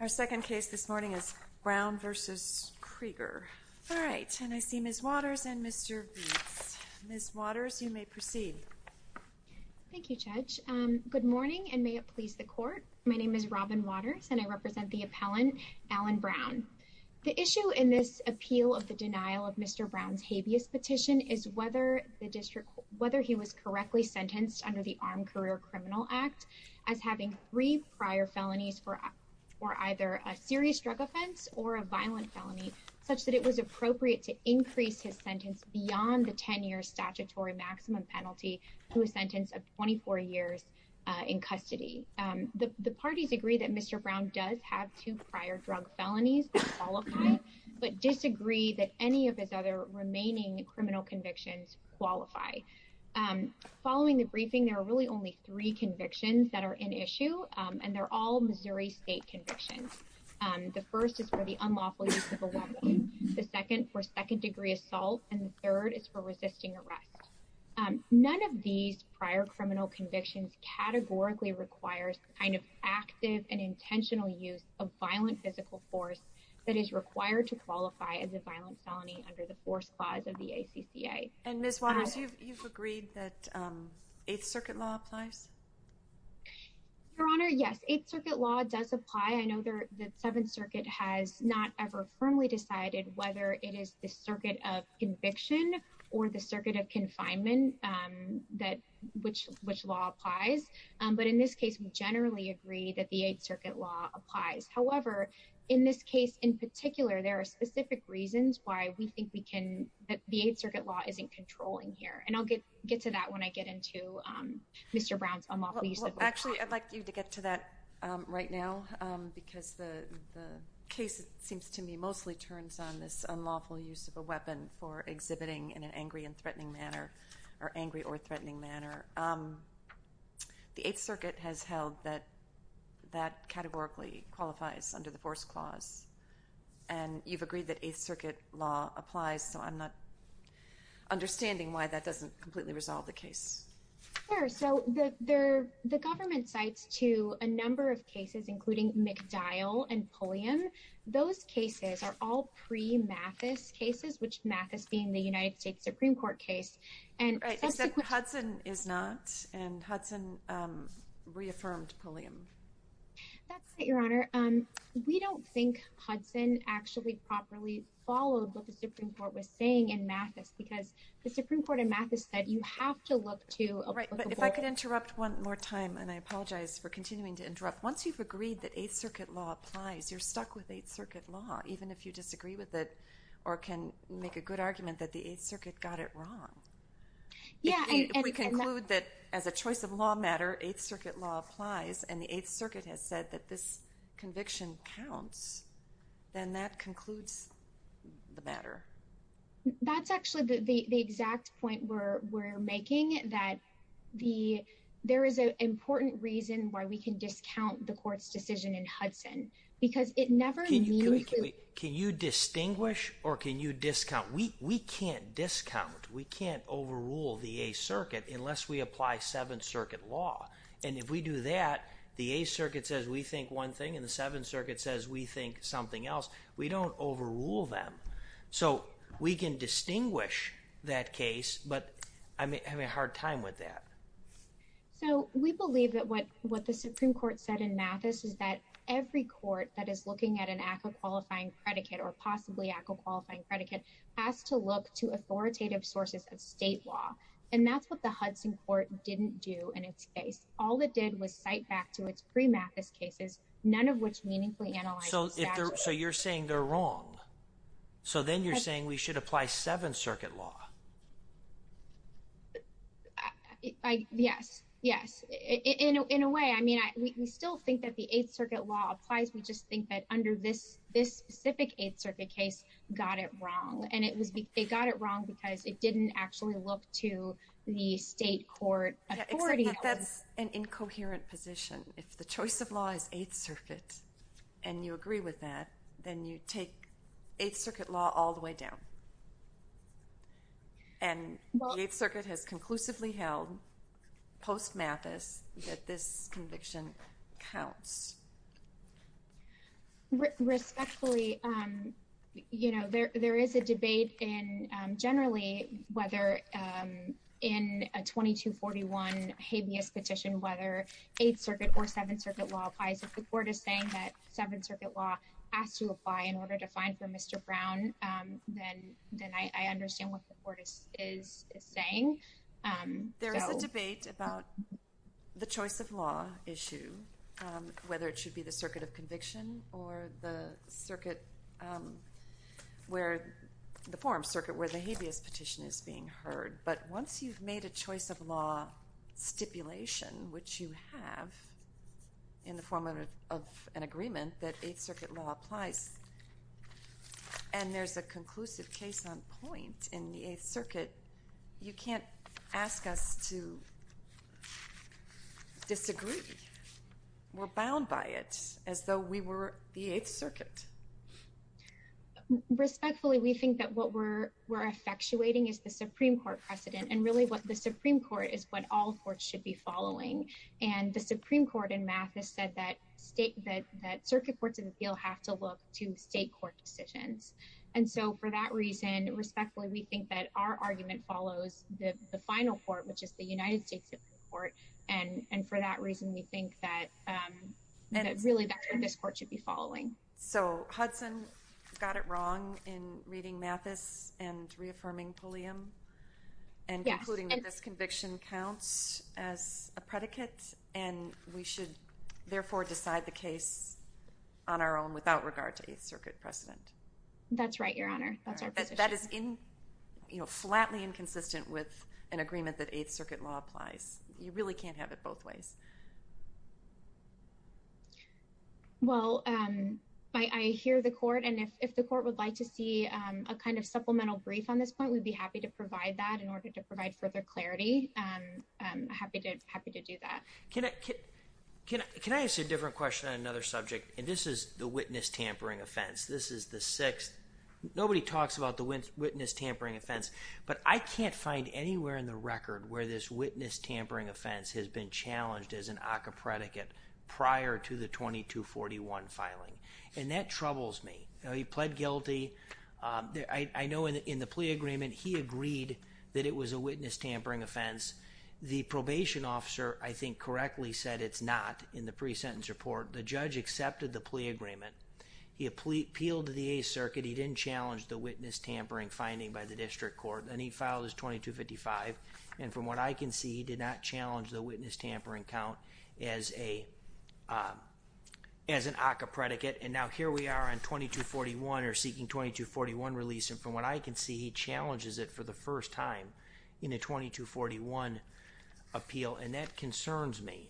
Our second case this morning is Brown v. Krueger. All right, and I see Ms. Waters and Mr. Beetz. Ms. Waters, you may proceed. Thank you, Judge. Good morning, and may it please the Court. My name is Robin Waters, and I represent the appellant, Alan Brown. The issue in this appeal of the denial of Mr. Brown's habeas petition is whether the district, whether he was correctly sentenced under the Armed Career Criminal Act as having three prior felonies for either a serious drug offense or a violent felony, such that it was appropriate to increase his sentence beyond the 10-year statutory maximum penalty to a sentence of 24 years in custody. The parties agree that Mr. Brown does have two prior drug felonies that qualify, but disagree that any of his other remaining criminal convictions qualify. Following the briefing, there are really only three convictions that are in issue, and they're all Missouri state convictions. The first is for the unlawful use of a weapon, the second for second-degree assault, and the third is for resisting arrest. None of these prior criminal convictions categorically requires the kind of active and intentional use of violent physical force that is required to qualify as a violent felony under the Force Clause of the ACCA. And Ms. Waters, you've agreed that Eighth Circuit law applies? Your Honor, yes, Eighth Circuit law does apply. I know the Seventh Circuit has not ever firmly decided whether it is the circuit of conviction or the circuit of confinement that which law applies, but in this case, we generally agree that the Eighth Circuit law applies. However, in this case in particular, there are specific reasons why we think we can, that the Eighth Circuit law isn't controlling here, and I'll get to that when I get into Mr. Brown's unlawful use of a weapon. Actually, I'd like you to get to that right now, because the case, it seems to me, mostly turns on this unlawful use of a weapon for exhibiting in an angry and threatening manner, or angry or threatening manner. The Eighth Circuit has held that that categorically qualifies under the Force Clause, and you've agreed that Eighth Circuit law applies, so I'm not understanding why that doesn't completely resolve the case. Sure, so the government cites to a number of cases, including McDowell and Pulliam. Those cases are all pre-Mathis cases, which Mathis being the United States Supreme Court case, and that's the question. Right, except Hudson is not, and Hudson reaffirmed Pulliam. That's right, Your Honor. We don't think Hudson actually properly followed what the Supreme Court was saying in Mathis, because the Supreme Court in Mathis said you have to look to a applicable- Right, but if I could interrupt one more time, and I apologize for continuing to interrupt. Once you've agreed that Eighth Circuit law applies, you're stuck with Eighth Circuit law, even if you disagree with it, or can make a good argument that the Eighth Circuit got it wrong. Yeah, and- If we conclude that, as a choice of law matter, Eighth Circuit law applies, and the Eighth Circuit has said that this conviction counts, then that concludes the matter. That's actually the exact point we're making, that there is an important reason why we can discount the court's decision in Hudson, because it never means to- Can you distinguish, or can you discount? We can't discount, we can't overrule the Eighth Circuit, unless we apply Seventh Circuit law. And if we do that, the Eighth Circuit says we think one thing, and the Seventh Circuit says we think something else. We don't overrule them. So, we can distinguish that case, but I'm having a hard time with that. So, we believe that what the Supreme Court said in Mathis is that every court that is looking at an act of qualifying predicate, or possibly act of qualifying predicate, has to look to authoritative sources of state law. And that's what the Hudson court didn't do in its case. All it did was cite back to its pre-Mathis cases, none of which meaningfully analyze the statute. So, you're saying they're wrong. So, then you're saying we should apply Seventh Circuit law. Yes, yes. In a way, I mean, we still think that the Eighth Circuit law applies, we just think that under this specific Eighth Circuit case got it wrong. And it was, they got it wrong because it didn't actually look to the state court authority. Yeah, except that that's an incoherent position. If the choice of law is Eighth Circuit, and you agree with that, then you take Eighth Circuit law all the way down. And the Eighth Circuit has conclusively held, post-Mathis, that this conviction counts. Respectfully, you know, there is a debate in, generally, whether in a 2241 habeas petition, whether Eighth Circuit or Seventh Circuit law applies. If the court is saying that Seventh Circuit law has to apply in order to find for Mr. Brown, then I understand what the court is saying. There is a debate about the choice of law issue, whether it should be the circuit of conviction, or the circuit where, the forum circuit where the habeas petition is being heard. But once you've made a choice of law stipulation, which you have in the form of an agreement that Eighth Circuit law applies, and there's a conclusive case on point in the Eighth Circuit, you can't ask us to disagree. We're bound by it as though we were the Eighth Circuit. Respectfully, we think that what we're effectuating is the Supreme Court precedent. And really what the Supreme Court is what all courts should be following. And the Supreme Court in Mathis said that state, that circuit courts in the field have to look to state court decisions. And so for that reason, respectfully, we think that our argument follows the final court, which is the United States Supreme Court. And for that reason, we think that really, that's what this court should be following. So Hudson got it wrong in reading Mathis and reaffirming Pulliam, and concluding that this conviction counts as a predicate, and we should therefore decide the case on our own without regard to Eighth Circuit precedent. That's right, Your Honor. That is flatly inconsistent with an agreement that Eighth Circuit law applies. You really can't have it both ways. Well, I hear the court, and if the court would like to see a kind of supplemental brief on this point, we'd be happy to provide that in order to provide further clarity. Happy to do that. Can I ask a different question on another subject? And this is the witness tampering offense. This is the sixth. Nobody talks about the witness tampering offense, but I can't find anywhere in the record where this witness tampering offense has been challenged as an ACCA predicate prior to the 2241 filing. And that troubles me. He pled guilty. I know in the plea agreement, he agreed that it was a witness tampering offense. The probation officer, I think, correctly said it's not in the pre-sentence report. The judge accepted the plea agreement. He appealed to the Eighth Circuit. He didn't challenge the witness tampering finding by the district court. Then he filed his 2255, and from what I can see, he did not challenge the witness tampering count as an ACCA predicate. And now here we are on 2241 or seeking 2241 release. And from what I can see, he challenges it for the first time in a 2241 appeal. And that concerns me.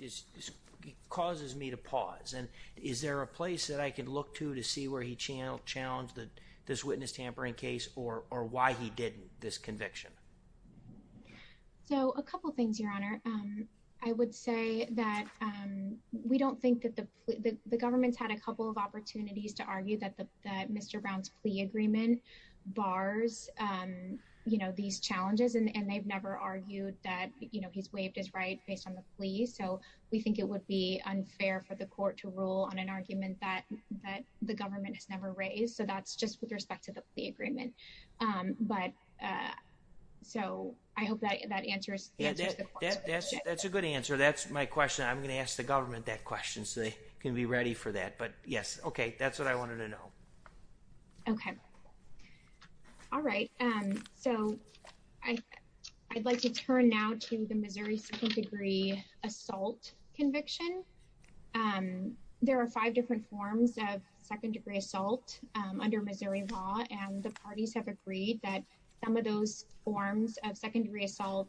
It causes me to pause. And is there a place that I can look to to see where he challenged this witness tampering case or why he did this conviction? So a couple of things, Your Honor. I would say that the government's had a couple of opportunities to argue that Mr. Brown's plea agreement bars these challenges. And they've never argued that he's waived his right based on the plea. So we think it would be unfair for the court to rule on an argument that the government has never raised. So that's just with respect to the plea agreement. But so I hope that answers the question. That's a good answer. That's my question. I'm gonna ask the government that question so they can be ready for that. But yes, okay. That's what I wanted to know. Okay. All right. So I'd like to turn now to the Missouri second degree assault conviction. There are five different forms of second degree assault under Missouri law. And the parties have agreed that some of those forms of secondary assault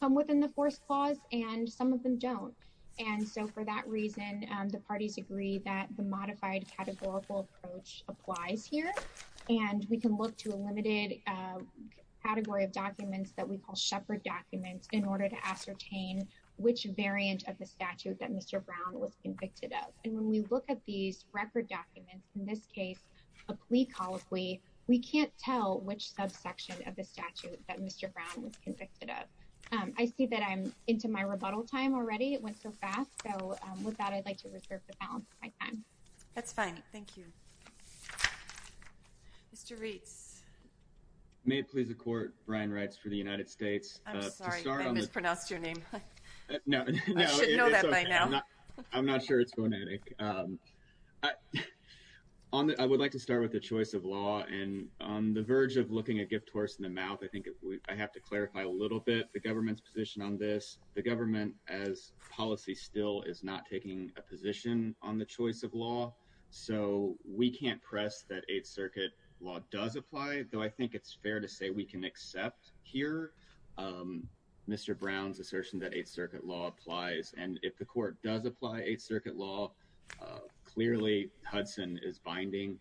come within the force clause and some of them don't. And so for that reason, the parties agree that the modified categorical approach applies here. And we can look to a limited category of documents that we call shepherd documents in order to ascertain which variant of the statute that Mr. Brown was convicted of. And when we look at these record documents in this case, a plea colloquy, we can't tell which subsection of the statute that Mr. Brown was convicted of. I see that I'm into my rebuttal time already. It went so fast. So with that, I'd like to reserve the balance of my time. That's fine. Thank you. Mr. Reitz. May it please the court, Brian Reitz for the United States. I'm sorry, I mispronounced your name. No. I should know that by now. I'm not sure it's phonetic. I would like to start with the choice of law. And on the verge of looking a gift horse in the mouth, I think I have to clarify a little bit the government's position on this. The government as policy still is not taking a position on the choice of law. So we can't press that Eighth Circuit law does apply, though I think it's fair to say we can accept here Mr. Brown's assertion that Eighth Circuit law applies. And if the court does apply Eighth Circuit law, clearly Hudson is binding.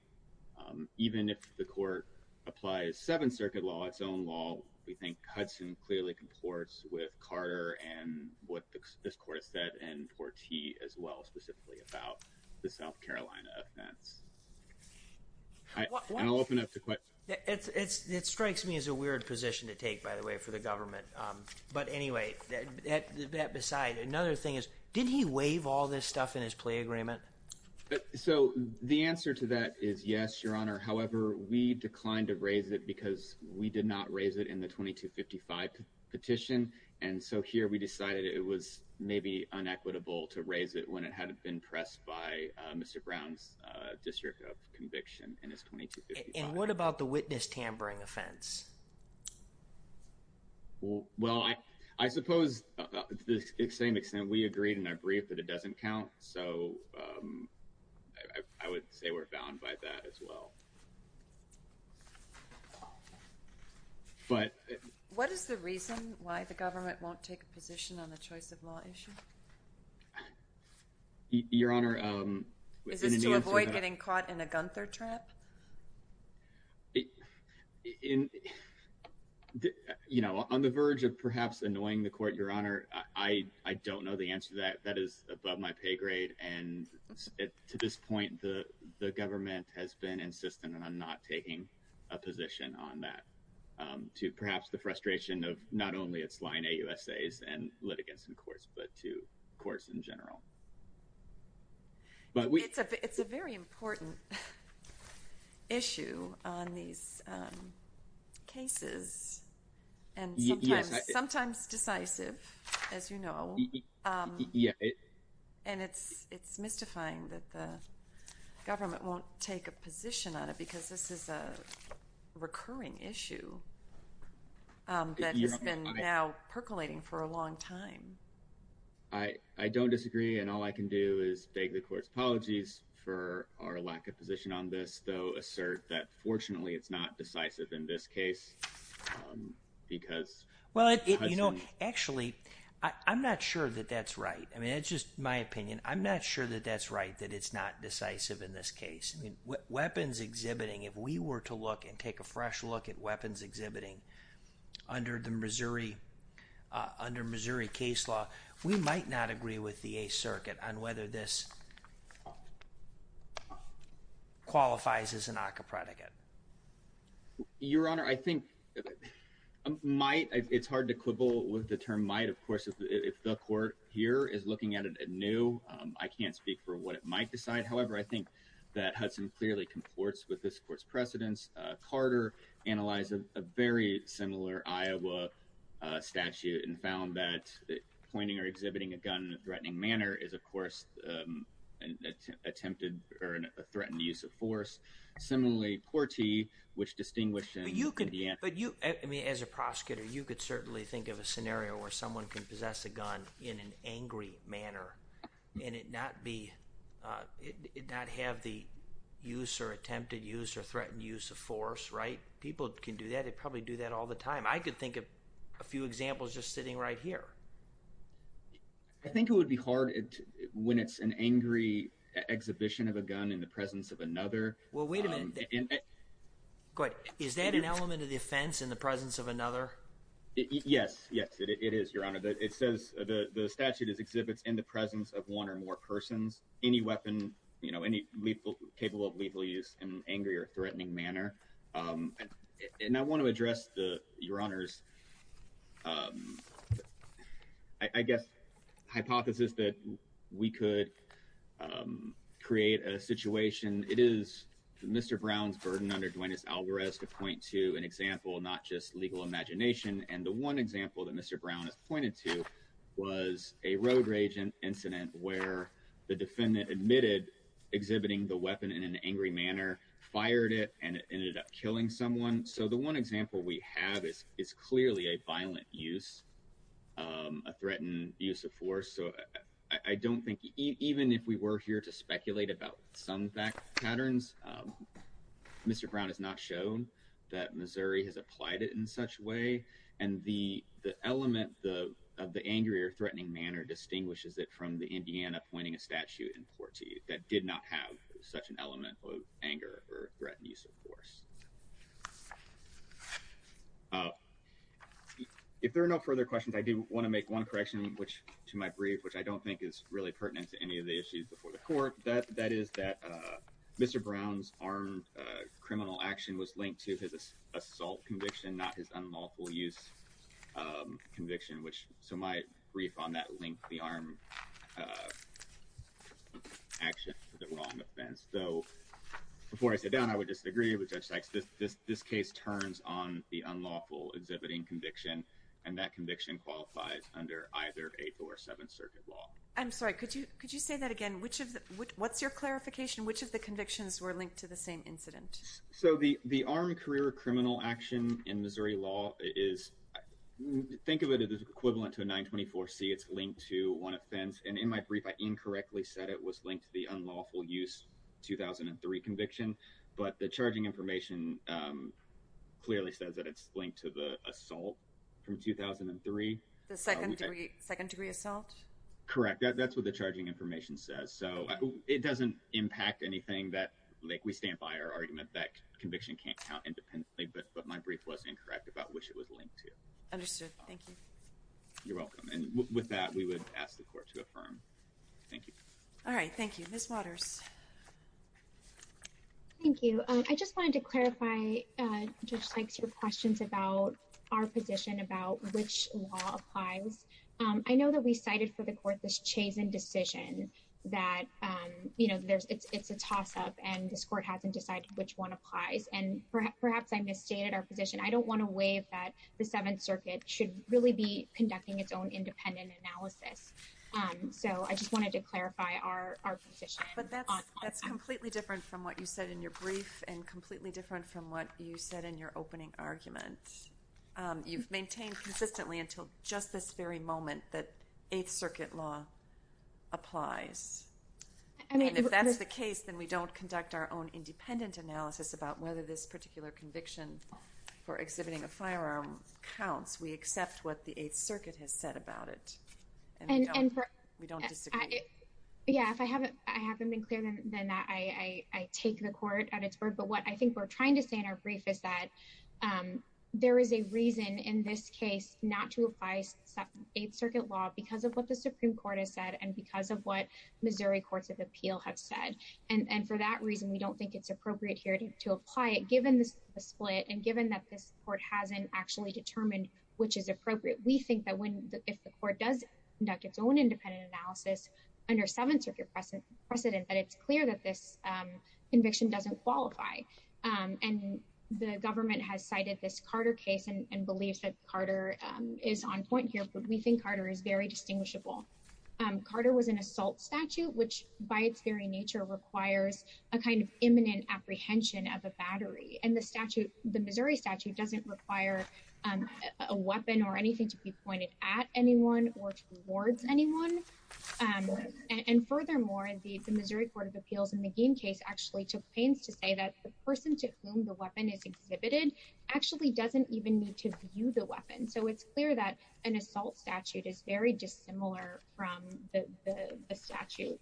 Even if the court applies Seventh Circuit law, its own law, we think Hudson clearly comports with Carter and what this court has said, and Portie as well, specifically about the South Carolina offense. And I'll open up to questions. It strikes me as a weird position to take, by the way, for the government. But anyway, that aside, another thing is, did he waive all this stuff in his play agreement? So the answer to that is yes, your honor. However, we declined to raise it because we did not raise it in the 2255 petition. And so here we decided it was maybe unequitable to raise it when it hadn't been pressed by Mr. Brown's district of conviction in his 2255. And what about the witness tampering offense? Well, I suppose to the same extent, we agreed in our brief that it doesn't count. So I would say we're bound by that as well. But- What is the reason why the government won't take a position on the choice of law issue? Your honor, in the answer to that- Is this to avoid getting caught in a Gunther trap? You know, on the verge of perhaps annoying the court, your honor, I don't know the answer to that. That is above my pay grade. And to this point, the government has been insistent on not taking a position on that to perhaps the frustration of not only its line AUSAs and litigants in courts, but to courts in general. But we- It's a very important issue on these cases and sometimes decisive, as you know. And it's mystifying that the government won't take a position on it because this is a recurring issue that has been now percolating for a long time. I don't disagree. And all I can do is beg the court's apologies for our lack of position on this, though assert that fortunately it's not decisive in this case because- Well, you know, actually, I'm not sure that that's right. I mean, it's just my opinion. I'm not sure that that's right, that it's not decisive in this case. I mean, weapons exhibiting, if we were to look and take a fresh look at weapons exhibiting under the Missouri case law, we might not agree with the Eighth Circuit on whether this qualifies as an ACCA predicate. Your Honor, I think might, it's hard to quibble with the term might. Of course, if the court here is looking at it anew, I can't speak for what it might decide. However, I think that Hudson clearly comports with this court's precedents. Carter analyzed a very similar Iowa statute and found that pointing or exhibiting a gun in a threatening manner is, of course, an attempted or a threatened use of force. Similarly, Portie, which distinguished in the end. But you, I mean, as a prosecutor, you could certainly think of a scenario where someone can possess a gun in an angry manner and it not be, it not have the use or attempted use or threatened use of force, right? People can do that. They probably do that all the time. I could think of a few examples just sitting right here. I think it would be hard when it's an angry exhibition of a gun in the presence of another. Well, wait a minute. Go ahead. Is that an element of the offense in the presence of another? Yes, yes, it is, Your Honor. It says the statute is exhibits in the presence of one or more persons. Any weapon, you know, any lethal, capable of lethal use in an angry or threatening manner. And I want to address the, Your Honors, I guess, hypothesis that we could create a situation. It is Mr. Brown's burden under Duenas-Alvarez to point to an example, not just legal imagination. And the one example that Mr. Brown has pointed to was a road rage incident where the defendant admitted exhibiting the weapon in an angry manner, fired it and it ended up killing someone. So the one example we have is clearly a violent use, a threatened use of force. So I don't think, even if we were here to speculate about some fact patterns, Mr. Brown has not shown that Missouri has applied it in such way. And the element of the angry or threatening manner distinguishes it from the Indiana pointing a statute in Portie that did not have such an element of anger or threatened use of force. If there are no further questions, I do want to make one correction, which to my brief, to any of the issues before the court, that is that Mr. Brown's armed criminal action was linked to his assault conviction, not his unlawful use conviction, so my brief on that linked the armed action to the wrong offense. So before I sit down, I would disagree with Judge Sykes. This case turns on the unlawful exhibiting conviction and that conviction qualifies under either Eighth or Seventh Circuit law. I'm sorry, could you say that again? What's your clarification? Which of the convictions were linked to the same incident? So the armed career criminal action in Missouri law is, think of it as equivalent to a 924-C. It's linked to one offense, and in my brief, I incorrectly said it was linked to the unlawful use 2003 conviction, but the charging information clearly says that it's linked to the assault from 2003. The second degree assault? Correct, that's what the charging information says. So it doesn't impact anything that, like we stand by our argument that conviction can't count independently, but my brief was incorrect about which it was linked to. Understood, thank you. You're welcome, and with that, we would ask the court to affirm. Thank you. All right, thank you. Ms. Waters. Thank you, I just wanted to clarify, Judge Sykes, your questions about our position, about which law applies. I know that we cited for the court this Chazen decision that it's a toss-up, and this court hasn't decided which one applies, and perhaps I misstated our position. I don't wanna waive that the Seventh Circuit should really be conducting its own independent analysis. So I just wanted to clarify our position. But that's completely different from what you said in your brief, and completely different from what you said in your opening argument. You've maintained consistently until just this very moment that Eighth Circuit law applies. And if that's the case, then we don't conduct our own independent analysis about whether this particular conviction for exhibiting a firearm counts. We accept what the Eighth Circuit has said about it, and we don't disagree. Yeah, if I haven't been clearer than that, I take the court at its word. But what I think we're trying to say in our brief is that there is a reason in this case not to apply Eighth Circuit law because of what the Supreme Court has said, and because of what Missouri Courts of Appeal have said. And for that reason, we don't think it's appropriate here to apply it, given the split, and given that this court hasn't actually determined which is appropriate. We think that if the court does conduct its own independent analysis under Seventh Circuit precedent, that it's clear that this conviction doesn't qualify. And the government has cited this Carter case and believes that Carter is on point here, but we think Carter is very distinguishable. Carter was an assault statute, which by its very nature requires a kind of imminent apprehension of a battery. And the Missouri statute doesn't require a weapon or anything to be pointed at anyone or towards anyone. And furthermore, the Missouri Court of Appeals in the Gein case actually took pains to say that the person to whom the weapon is exhibited actually doesn't even need to view the weapon. So it's clear that an assault statute is very dissimilar from the statute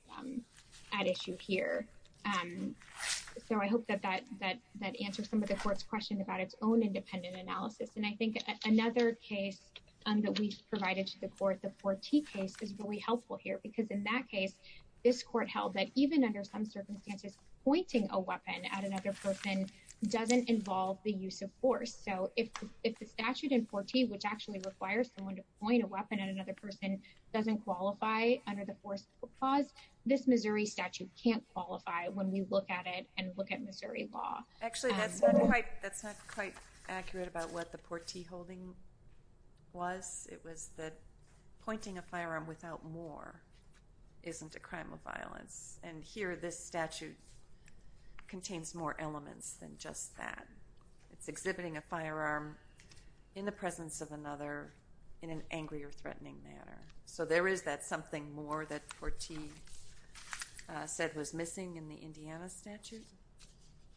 at issue here. So I hope that answers some of the court's question about its own independent analysis. And I think another case that we've provided to the court, the Forti case is really helpful here, because in that case, this court held that even under some circumstances, pointing a weapon at another person doesn't involve the use of force. So if the statute in Forti, which actually requires someone to point a weapon at another person doesn't qualify under the force clause, this Missouri statute can't qualify when we look at it and look at Missouri law. Actually, that's not quite accurate about what the Forti holding was. It was that pointing a firearm without more isn't a crime of violence. And here, this statute contains more elements than just that. It's exhibiting a firearm in the presence of another in an angry or threatening manner. So there is that something more that Forti said was missing in the Indiana statute?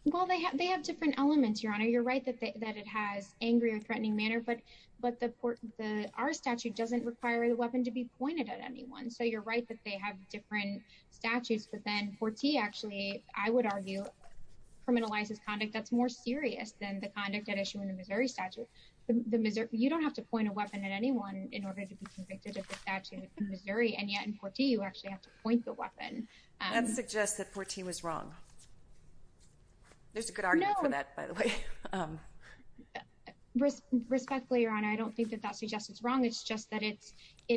Well, they have different elements, Your Honor. You're right that it has angry or threatening manner, but our statute doesn't require the weapon to be pointed at anyone. And so you're right that they have different statutes, but then Forti actually, I would argue, criminalizes conduct that's more serious than the conduct at issue in the Missouri statute. You don't have to point a weapon at anyone in order to be convicted of the statute in Missouri, and yet in Forti, you actually have to point the weapon. That suggests that Forti was wrong. There's a good argument for that, by the way. Respectfully, Your Honor, I don't think that that suggests it's wrong. It's just that it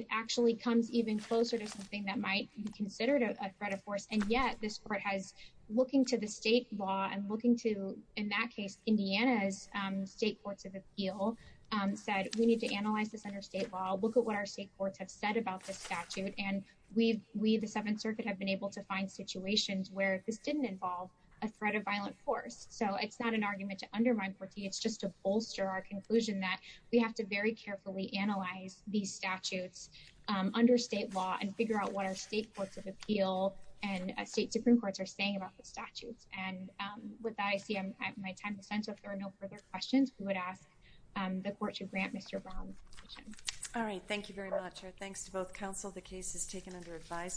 actually comes even closer to something that might be considered a threat of force, and yet this court has, looking to the state law and looking to, in that case, Indiana's state courts of appeal, said we need to analyze this under state law, look at what our state courts have said about this statute, and we, the Seventh Circuit, have been able to find situations where this didn't involve a threat of violent force. So it's not an argument to undermine Forti. It's just to bolster our conclusion that we have to very carefully analyze these statutes under state law and figure out what our state courts of appeal and state Supreme Courts are saying about the statutes. And with that, I see my time is up, so if there are no further questions, we would ask the court to grant Mr. Brown's position. All right, thank you very much, and thanks to both counsel. The case is taken under advisement.